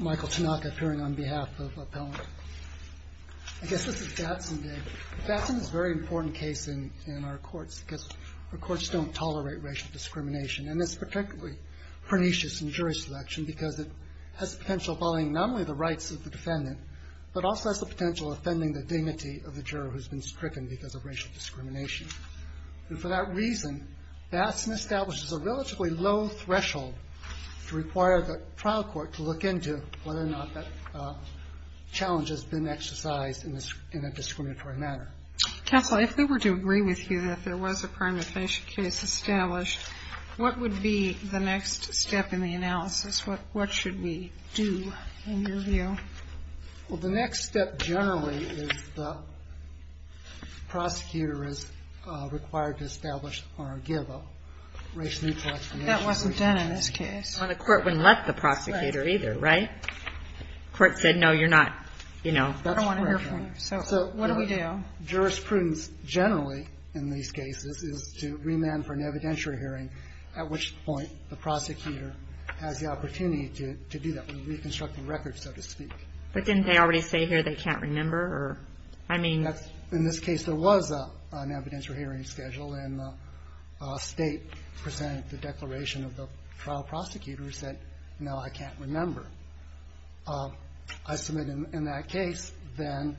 Michael Tanaka, appearing on behalf of Appellant. I guess this is Batson Day. Batson is a very important case in our courts because our courts don't tolerate racial discrimination, and it's particularly pernicious in jury selection because it has the potential of violating not only the rights of the defendant, but also has the potential of offending the dignity of the juror who's been stricken because of racial discrimination. And for that reason, Batson establishes a relatively low threshold to require the trial court to look at and look into whether or not that challenge has been exercised in a discriminatory manner. Kagan. Counsel, if we were to agree with you that there was a prime definition case established, what would be the next step in the analysis? What should we do, in your view? Michael Tanaka, appearing on behalf of Appellant. Well, the next step generally is the prosecutor is required to establish or give a racial neutral explanation. Kagan. That wasn't done in this case. Well, the court wouldn't let the prosecutor either, right? The court said, no, you're not, you know. I don't want to hear from you. So what do we do? Jurisprudence generally in these cases is to remand for an evidentiary hearing, at which point the prosecutor has the opportunity to do that, to reconstruct the record, so to speak. But didn't they already say here they can't remember or, I mean. In this case, there was an evidentiary hearing scheduled, and the State presented the declaration of the trial prosecutor who said, no, I can't remember. I submit in that case, then,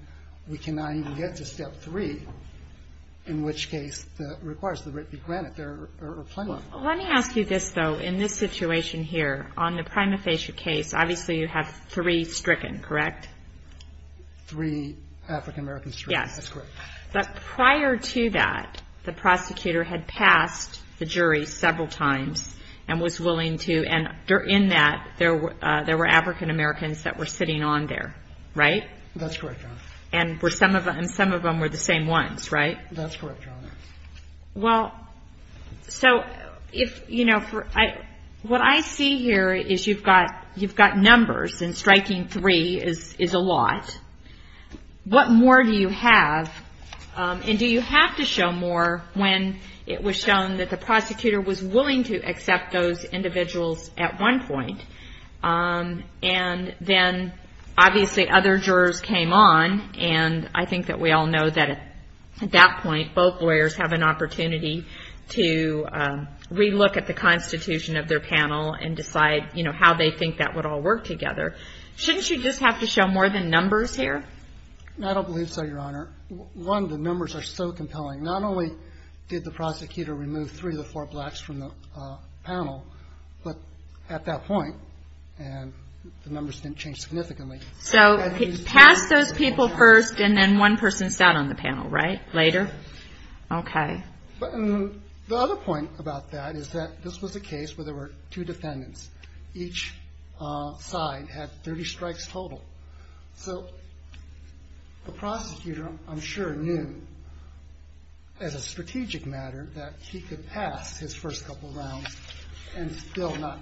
we cannot even get to Step 3, in which case that requires the writ be granted. There are plenty of. Well, let me ask you this, though. In this situation here, on the prima facie case, obviously you have three stricken, correct? Three African-American stricken. Yes. That's correct. But prior to that, the prosecutor had passed the jury several times and was willing to, and in that, there were African-Americans that were sitting on there, right? That's correct, Your Honor. And some of them were the same ones, right? That's correct, Your Honor. Well, so if, you know, what I see here is you've got numbers, and striking three is a lot. What more do you have? And do you have to show more when it was shown that the prosecutor was willing to accept those individuals at one point? And then, obviously, other jurors came on, and I think that we all know that at that point, both lawyers have an opportunity to re-look at the Constitution of their panel and decide, you know, how they think that would all work together. Shouldn't you just have to show more than numbers here? I don't believe so, Your Honor. One, the numbers are so compelling. Not only did the prosecutor remove three of the four blacks from the panel, but at that point, and the numbers didn't change significantly. So he passed those people first, and then one person sat on the panel, right, later? Yes. Okay. The other point about that is that this was a case where there were two defendants. Each side had 30 strikes total. So the prosecutor, I'm sure, knew, as a strategic matter, that he could pass his first couple rounds and still not.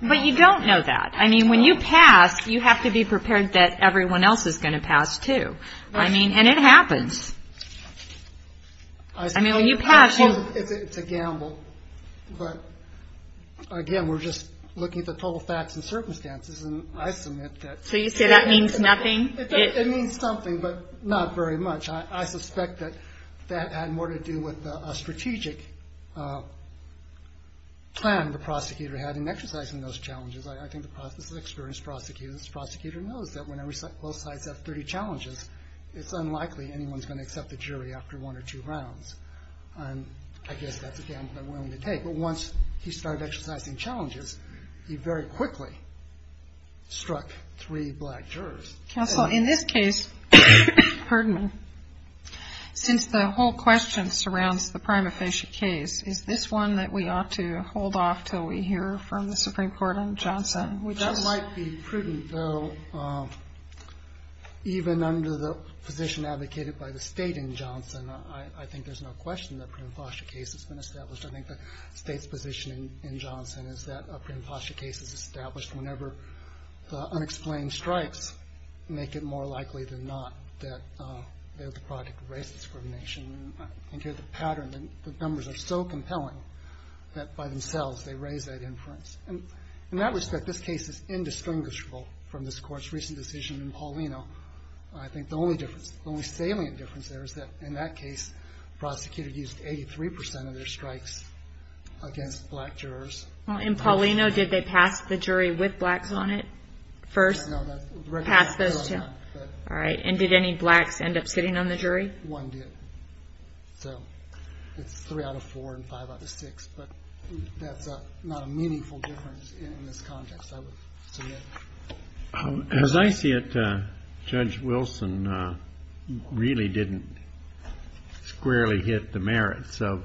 But you don't know that. I mean, when you pass, you have to be prepared that everyone else is going to pass, too. I mean, and it happens. I mean, when you pass, you. It's a gamble. But, again, we're just looking at the total facts and circumstances, and I submit that. So you say that means nothing? It means something, but not very much. I suspect that that had more to do with a strategic plan the prosecutor had in exercising those challenges. I think this is an experienced prosecutor. This prosecutor knows that when both sides have 30 challenges, it's unlikely anyone's going to accept the jury after one or two rounds. And I guess that's a gamble I'm willing to take. But once he started exercising challenges, he very quickly struck three black jurors. Counsel, in this case, since the whole question surrounds the prima facie case, is this one that we ought to hold off until we hear from the Supreme Court on Johnson? That might be prudent, though, even under the position advocated by the State in Johnson. I think there's no question the prima facie case has been established. I think the State's position in Johnson is that a prima facie case is established whenever the unexplained strikes make it more likely than not that they're the product of race discrimination. And here's the pattern. The numbers are so compelling that, by themselves, they raise that inference. And in that respect, this case is indistinguishable from this Court's recent decision in Paulino. I think the only difference, the only salient difference there is that, in that case, the prosecutor used 83 percent of their strikes against black jurors. Well, in Paulino, did they pass the jury with blacks on it first? No. Passed those two. All right. And did any blacks end up sitting on the jury? One did. So it's three out of four and five out of six. But that's not a meaningful difference in this context, I would submit. As I see it, Judge Wilson really didn't squarely hit the merits of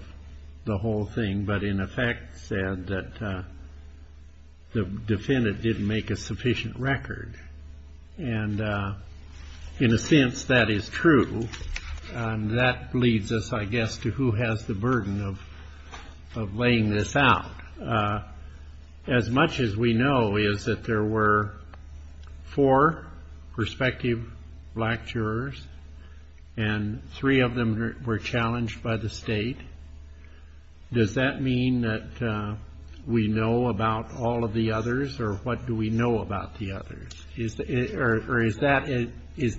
the whole thing, but, in effect, said that the defendant didn't make a sufficient record. And in a sense, that is true. That leads us, I guess, to who has the burden of laying this out. As much as we know is that there were four prospective black jurors, and three of them were challenged by the State. Does that mean that we know about all of the others, or what do we know about the others? Or is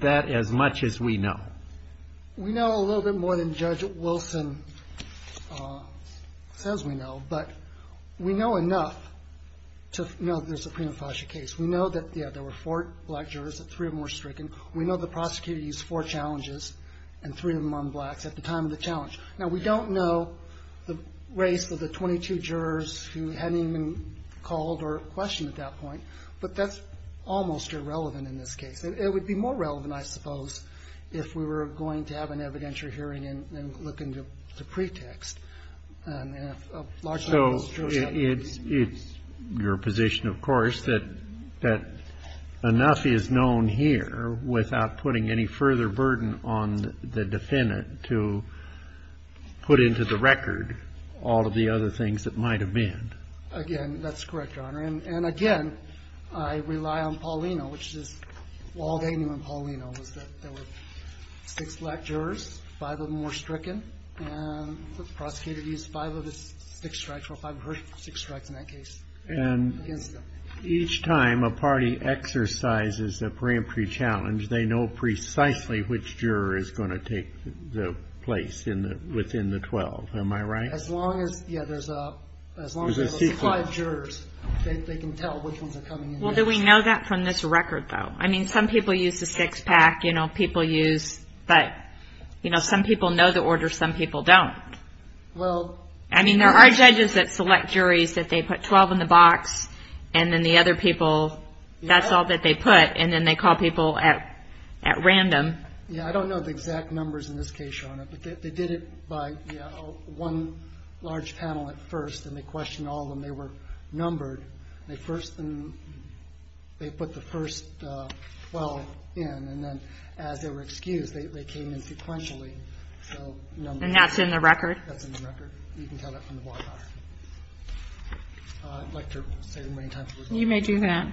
that as much as we know? We know a little bit more than Judge Wilson says we know. But we know enough to know that there's a prima facie case. We know that, yeah, there were four black jurors and three of them were stricken. We know the prosecutor used four challenges and three of them on blacks at the time of the challenge. Now, we don't know the race of the 22 jurors who hadn't even called or questioned at that point, but that's almost irrelevant in this case. It would be more relevant, I suppose, if we were going to have an evidentiary hearing and look into the pretext. So it's your position, of course, that enough is known here without putting any further burden on the defendant to put into the record all of the other things that might have been. Again, that's correct, Your Honor. And again, I rely on Paulino, which is all they knew on Paulino was that there were six black jurors, five of them were stricken, and the prosecutor used five of his six strikes, or five of her six strikes in that case against them. And each time a party exercises a preemptory challenge, they know precisely which juror is going to take the place within the 12, am I right? As long as there's five jurors, they can tell which ones are coming in next. Well, do we know that from this record, though? I mean, some people use the six-pack, you know, people use, but, you know, some people know the order, some people don't. I mean, there are judges that select juries that they put 12 in the box, and then the other people, that's all that they put, and then they call people at random. Yeah, I don't know the exact numbers in this case, Your Honor, but they did it by one large panel at first, and they questioned all of them. They were numbered. They first put the first 12 in, and then as they were excused, they came in sequentially. And that's in the record? That's in the record. You can tell that from the bar chart. I'd like to say as many times as we're going. You may do that.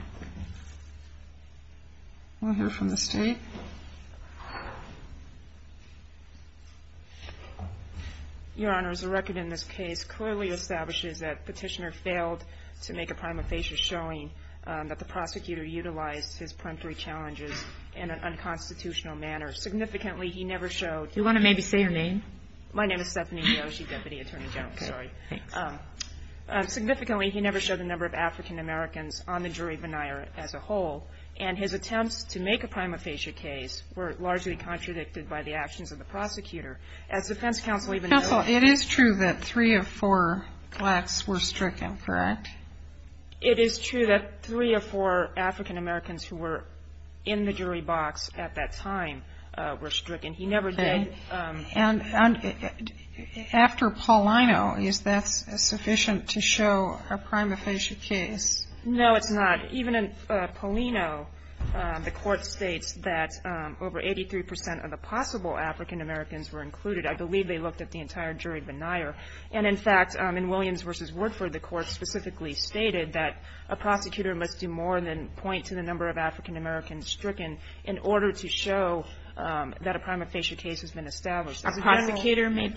We'll hear from the State. Your Honor, as a record in this case, it clearly establishes that Petitioner failed to make a prima facie showing that the prosecutor utilized his peremptory challenges in an unconstitutional manner. Significantly, he never showed. Do you want to maybe say your name? My name is Stephanie Yoshi, Deputy Attorney General. Okay. Sorry. Thanks. Significantly, he never showed the number of African Americans on the jury veneer as a whole, and his attempts to make a prima facie case were largely contradicted by the actions of the prosecutor. As defense counsel even noted. So it is true that three of four blacks were stricken, correct? It is true that three of four African Americans who were in the jury box at that time were stricken. He never did. Okay. And after Paulino, is that sufficient to show a prima facie case? No, it's not. Even in Paulino, the court states that over 83 percent of the possible African Americans were included. I believe they looked at the entire jury veneer. And, in fact, in Williams v. Woodford, the court specifically stated that a prosecutor must do more than point to the number of African Americans stricken in order to show that a prima facie case has been established. A prosecutor must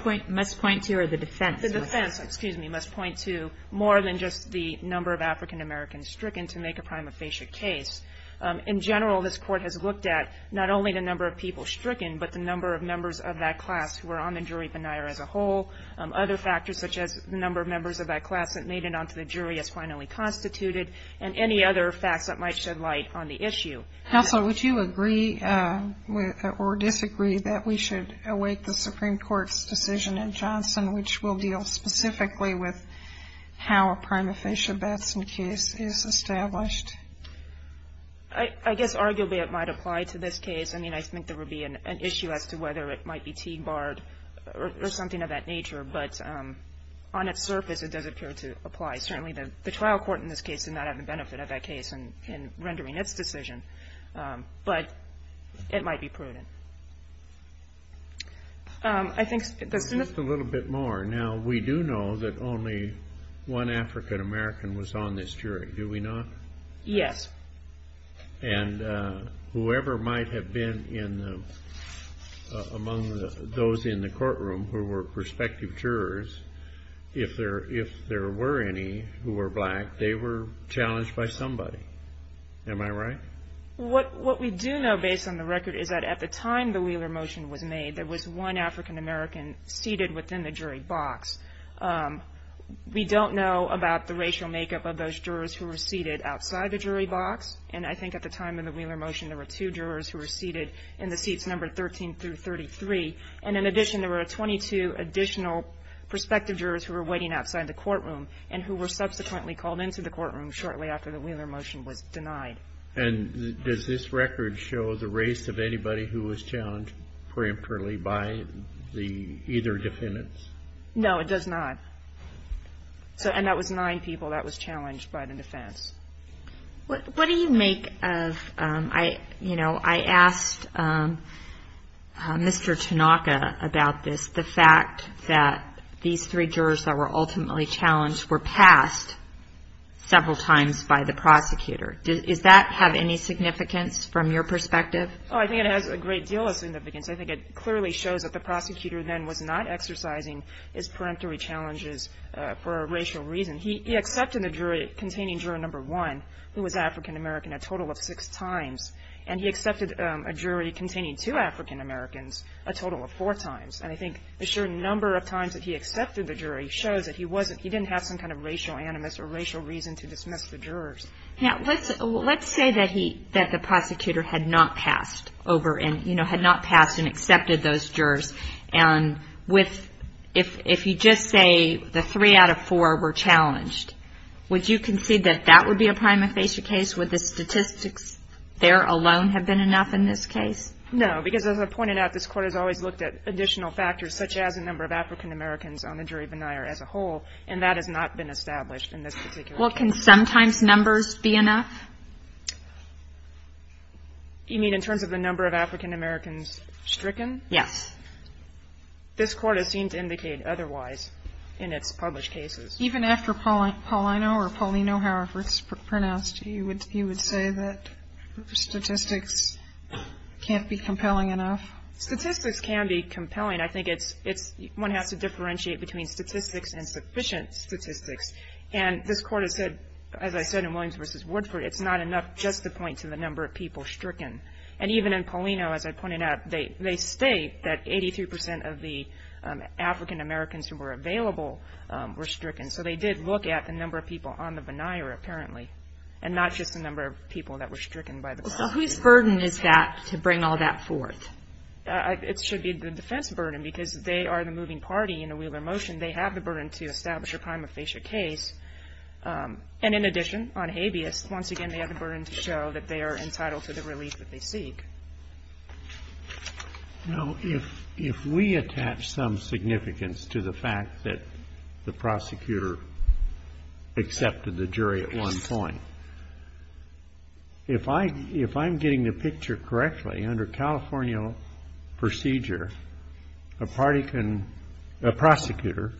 point to, or the defense? The defense, excuse me, must point to more than just the number of African Americans stricken to make a prima facie case. In general, this Court has looked at not only the number of people stricken, but the number of members of that class who were on the jury veneer as a whole, other factors such as the number of members of that class that made it onto the jury as finally constituted, and any other facts that might shed light on the issue. Counsel, would you agree or disagree that we should await the Supreme Court's decision in Johnson, which will deal specifically with how a prima facie Batson case is established? I guess arguably it might apply to this case. I mean, I think there would be an issue as to whether it might be T-barred or something of that nature. But on its surface, it does appear to apply. Certainly, the trial court in this case did not have the benefit of that case in rendering its decision. But it might be prudent. I think the Supreme Court- Just a little bit more. Now, we do know that only one African American was on this jury, do we not? Yes. And whoever might have been among those in the courtroom who were prospective jurors, if there were any who were black, they were challenged by somebody. Am I right? What we do know, based on the record, is that at the time the Wheeler motion was made, there was one African American seated within the jury box. We don't know about the racial makeup of those jurors who were seated outside the jury box. And I think at the time of the Wheeler motion, there were two jurors who were seated in the seats numbered 13 through 33. And in addition, there were 22 additional prospective jurors who were waiting outside the courtroom and who were subsequently called into the courtroom shortly after the Wheeler motion was denied. And does this record show the race of anybody who was challenged preemptorily by either defendants? No, it does not. And that was nine people that was challenged by the defense. What do you make of, you know, I asked Mr. Tanaka about this, the fact that these three jurors that were ultimately challenged were passed several times by the prosecutor. Does that have any significance from your perspective? I think it clearly shows that the prosecutor then was not exercising his preemptory challenges for a racial reason. He accepted the jury containing juror number one, who was African American, a total of six times. And he accepted a jury containing two African Americans, a total of four times. And I think the number of times that he accepted the jury shows that he wasn't, he didn't have some kind of racial animus or racial reason to dismiss the jurors. Now, let's say that the prosecutor had not passed over and, you know, had not passed and accepted those jurors. And if you just say the three out of four were challenged, would you concede that that would be a prima facie case? Would the statistics there alone have been enough in this case? No, because as I pointed out, this Court has always looked at additional factors, such as the number of African Americans on the jury veneer as a whole, and that has not been established in this particular case. Well, can sometimes numbers be enough? You mean in terms of the number of African Americans stricken? Yes. This Court has seemed to indicate otherwise in its published cases. Even after Paulino or Paulino, however it's pronounced, you would say that statistics can't be compelling enough? Statistics can be compelling. I think it's, one has to differentiate between statistics and sufficient statistics. And this Court has said, as I said in Williams v. Woodford, it's not enough just to point to the number of people stricken. And even in Paulino, as I pointed out, they state that 83 percent of the African Americans who were available were stricken. So they did look at the number of people on the veneer, apparently, and not just the number of people that were stricken by the crime. So whose burden is that to bring all that forth? It should be the defense burden, because they are the moving party in the Wheeler motion. They have the burden to establish a prima facie case. And in addition, on habeas, once again, they have the burden to show that they are entitled to the relief that they seek. Now, if we attach some significance to the fact that the prosecutor accepted the jury at one point, if I'm getting the picture correctly, under California procedure, a prosecutor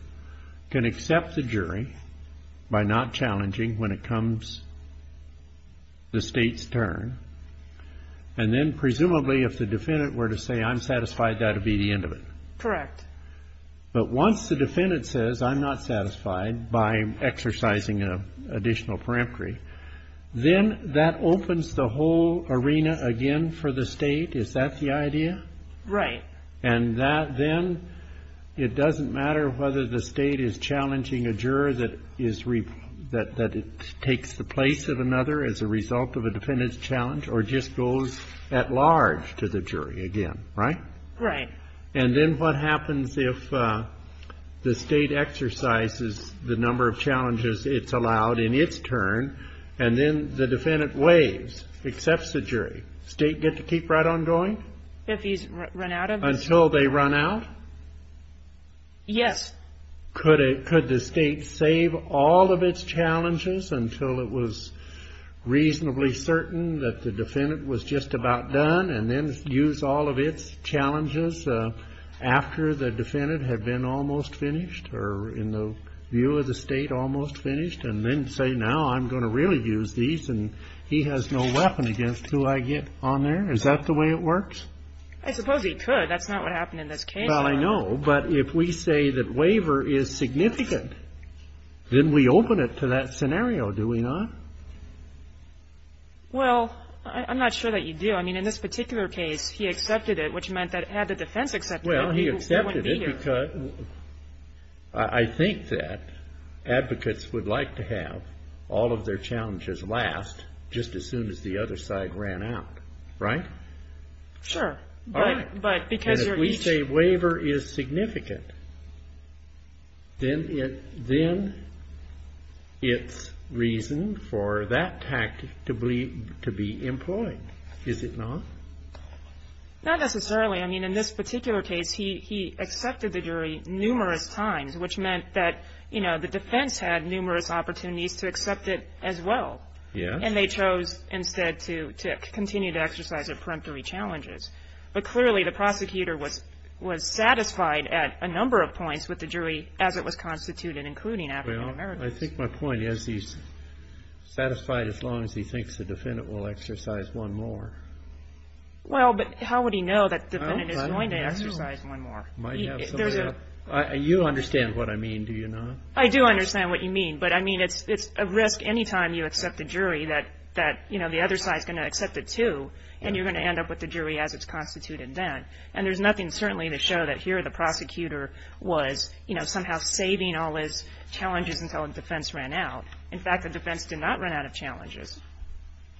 can accept the jury by not challenging when it comes, the state's turn, and then presumably if the defendant were to say, I'm satisfied, that would be the end of it. Correct. But once the defendant says, I'm not satisfied by exercising an additional peremptory, then that opens the whole arena again for the state. Is that the idea? Right. And that then, it doesn't matter whether the state is challenging a juror that is, that it takes the place of another as a result of a defendant's challenge or just goes at large to the jury again. Right? Right. And then what happens if the state exercises the number of challenges it's allowed in its turn and then the defendant waives, accepts the jury? Does the state get to keep right on going? If he's run out of it. Until they run out? Yes. Could the state save all of its challenges until it was reasonably certain that the defendant was just about done and then use all of its challenges after the defendant had been almost finished or in the view of the state almost finished and then say, now I'm going to really use these and he has no weapon against who I get on there? Is that the way it works? I suppose he could. That's not what happened in this case. Well, I know. But if we say that waiver is significant, then we open it to that scenario, do we not? Well, I'm not sure that you do. I mean, in this particular case, he accepted it, which meant that had the defense accepted it, he wouldn't be here. Well, he accepted it because I think that advocates would like to have all of their challenges last just as soon as the other side ran out. Right? Sure. Right. And if we say waiver is significant, then it's reason for that tactic to be employed, is it not? Not necessarily. I mean, in this particular case, he accepted the jury numerous times, which meant that the defense had numerous opportunities to accept it as well. Yeah. And they chose instead to continue to exercise their peremptory challenges. But clearly, the prosecutor was satisfied at a number of points with the jury as it was constituted, including African-Americans. Well, I think my point is he's satisfied as long as he thinks the defendant will exercise one more. Well, but how would he know that the defendant is going to exercise one more? He might have somebody else. You understand what I mean, do you not? I do understand what you mean. But, I mean, it's a risk any time you accept a jury that, you know, the other side is going to accept it too, and you're going to end up with the jury as it's constituted then. And there's nothing certainly to show that here the prosecutor was, you know, somehow saving all his challenges until the defense ran out. In fact, the defense did not run out of challenges.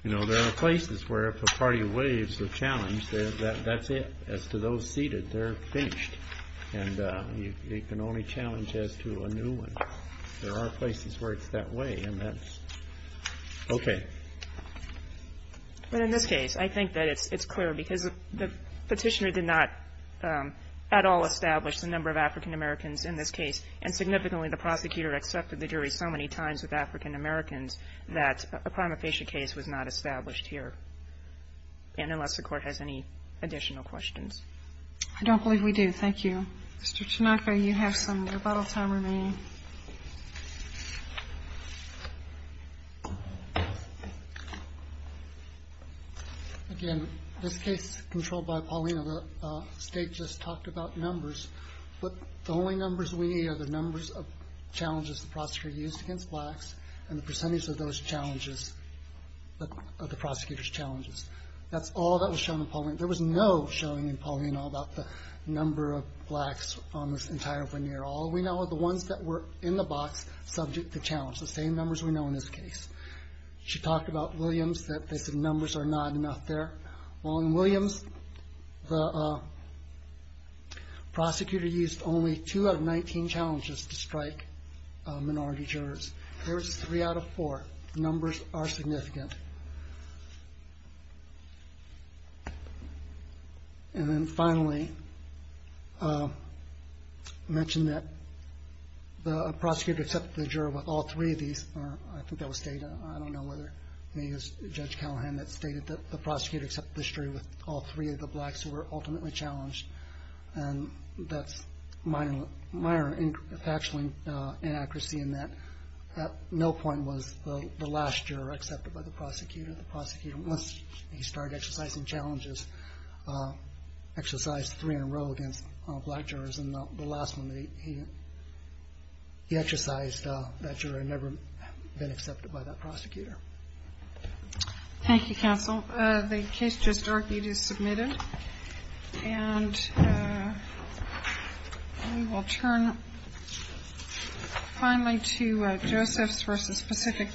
You know, there are places where if a party waives the challenge, that's it. As to those seated, they're finished. And you can only challenge as to a new one. There are places where it's that way, and that's okay. But in this case, I think that it's clear because the Petitioner did not at all establish the number of African Americans in this case, and significantly the prosecutor accepted the jury so many times with African Americans that a prima facie case was not established here, and unless the Court has any additional questions. I don't believe we do. Thank you. Mr. Tanaka, you have some rebuttal time remaining. Thank you. Again, this case controlled by Paulina, the State just talked about numbers. But the only numbers we need are the numbers of challenges the prosecutor used against blacks and the percentage of those challenges, of the prosecutor's challenges. That's all that was shown in Paulina. There was no showing in Paulina about the number of blacks on this entire veneer. All we know are the ones that were in the box subject to challenge, the same numbers we know in this case. She talked about Williams, that numbers are not enough there. Well, in Williams, the prosecutor used only 2 out of 19 challenges to strike minority jurors. Here it's 3 out of 4. Numbers are significant. And then finally, I mentioned that the prosecutor accepted the juror with all 3 of these. I think that was stated. I don't know whether it was Judge Callahan that stated that the prosecutor accepted the jury with all 3 of the blacks who were ultimately challenged. And that's minor factually inaccuracy in that at no point was the last juror accepted by the prosecutor. The prosecutor, once he started exercising challenges, exercised 3 in a row against black jurors. And the last one, he exercised that juror had never been accepted by that prosecutor. Thank you, counsel. The case just argued is submitted. And we will turn finally to Josephs v. Pacific Bill.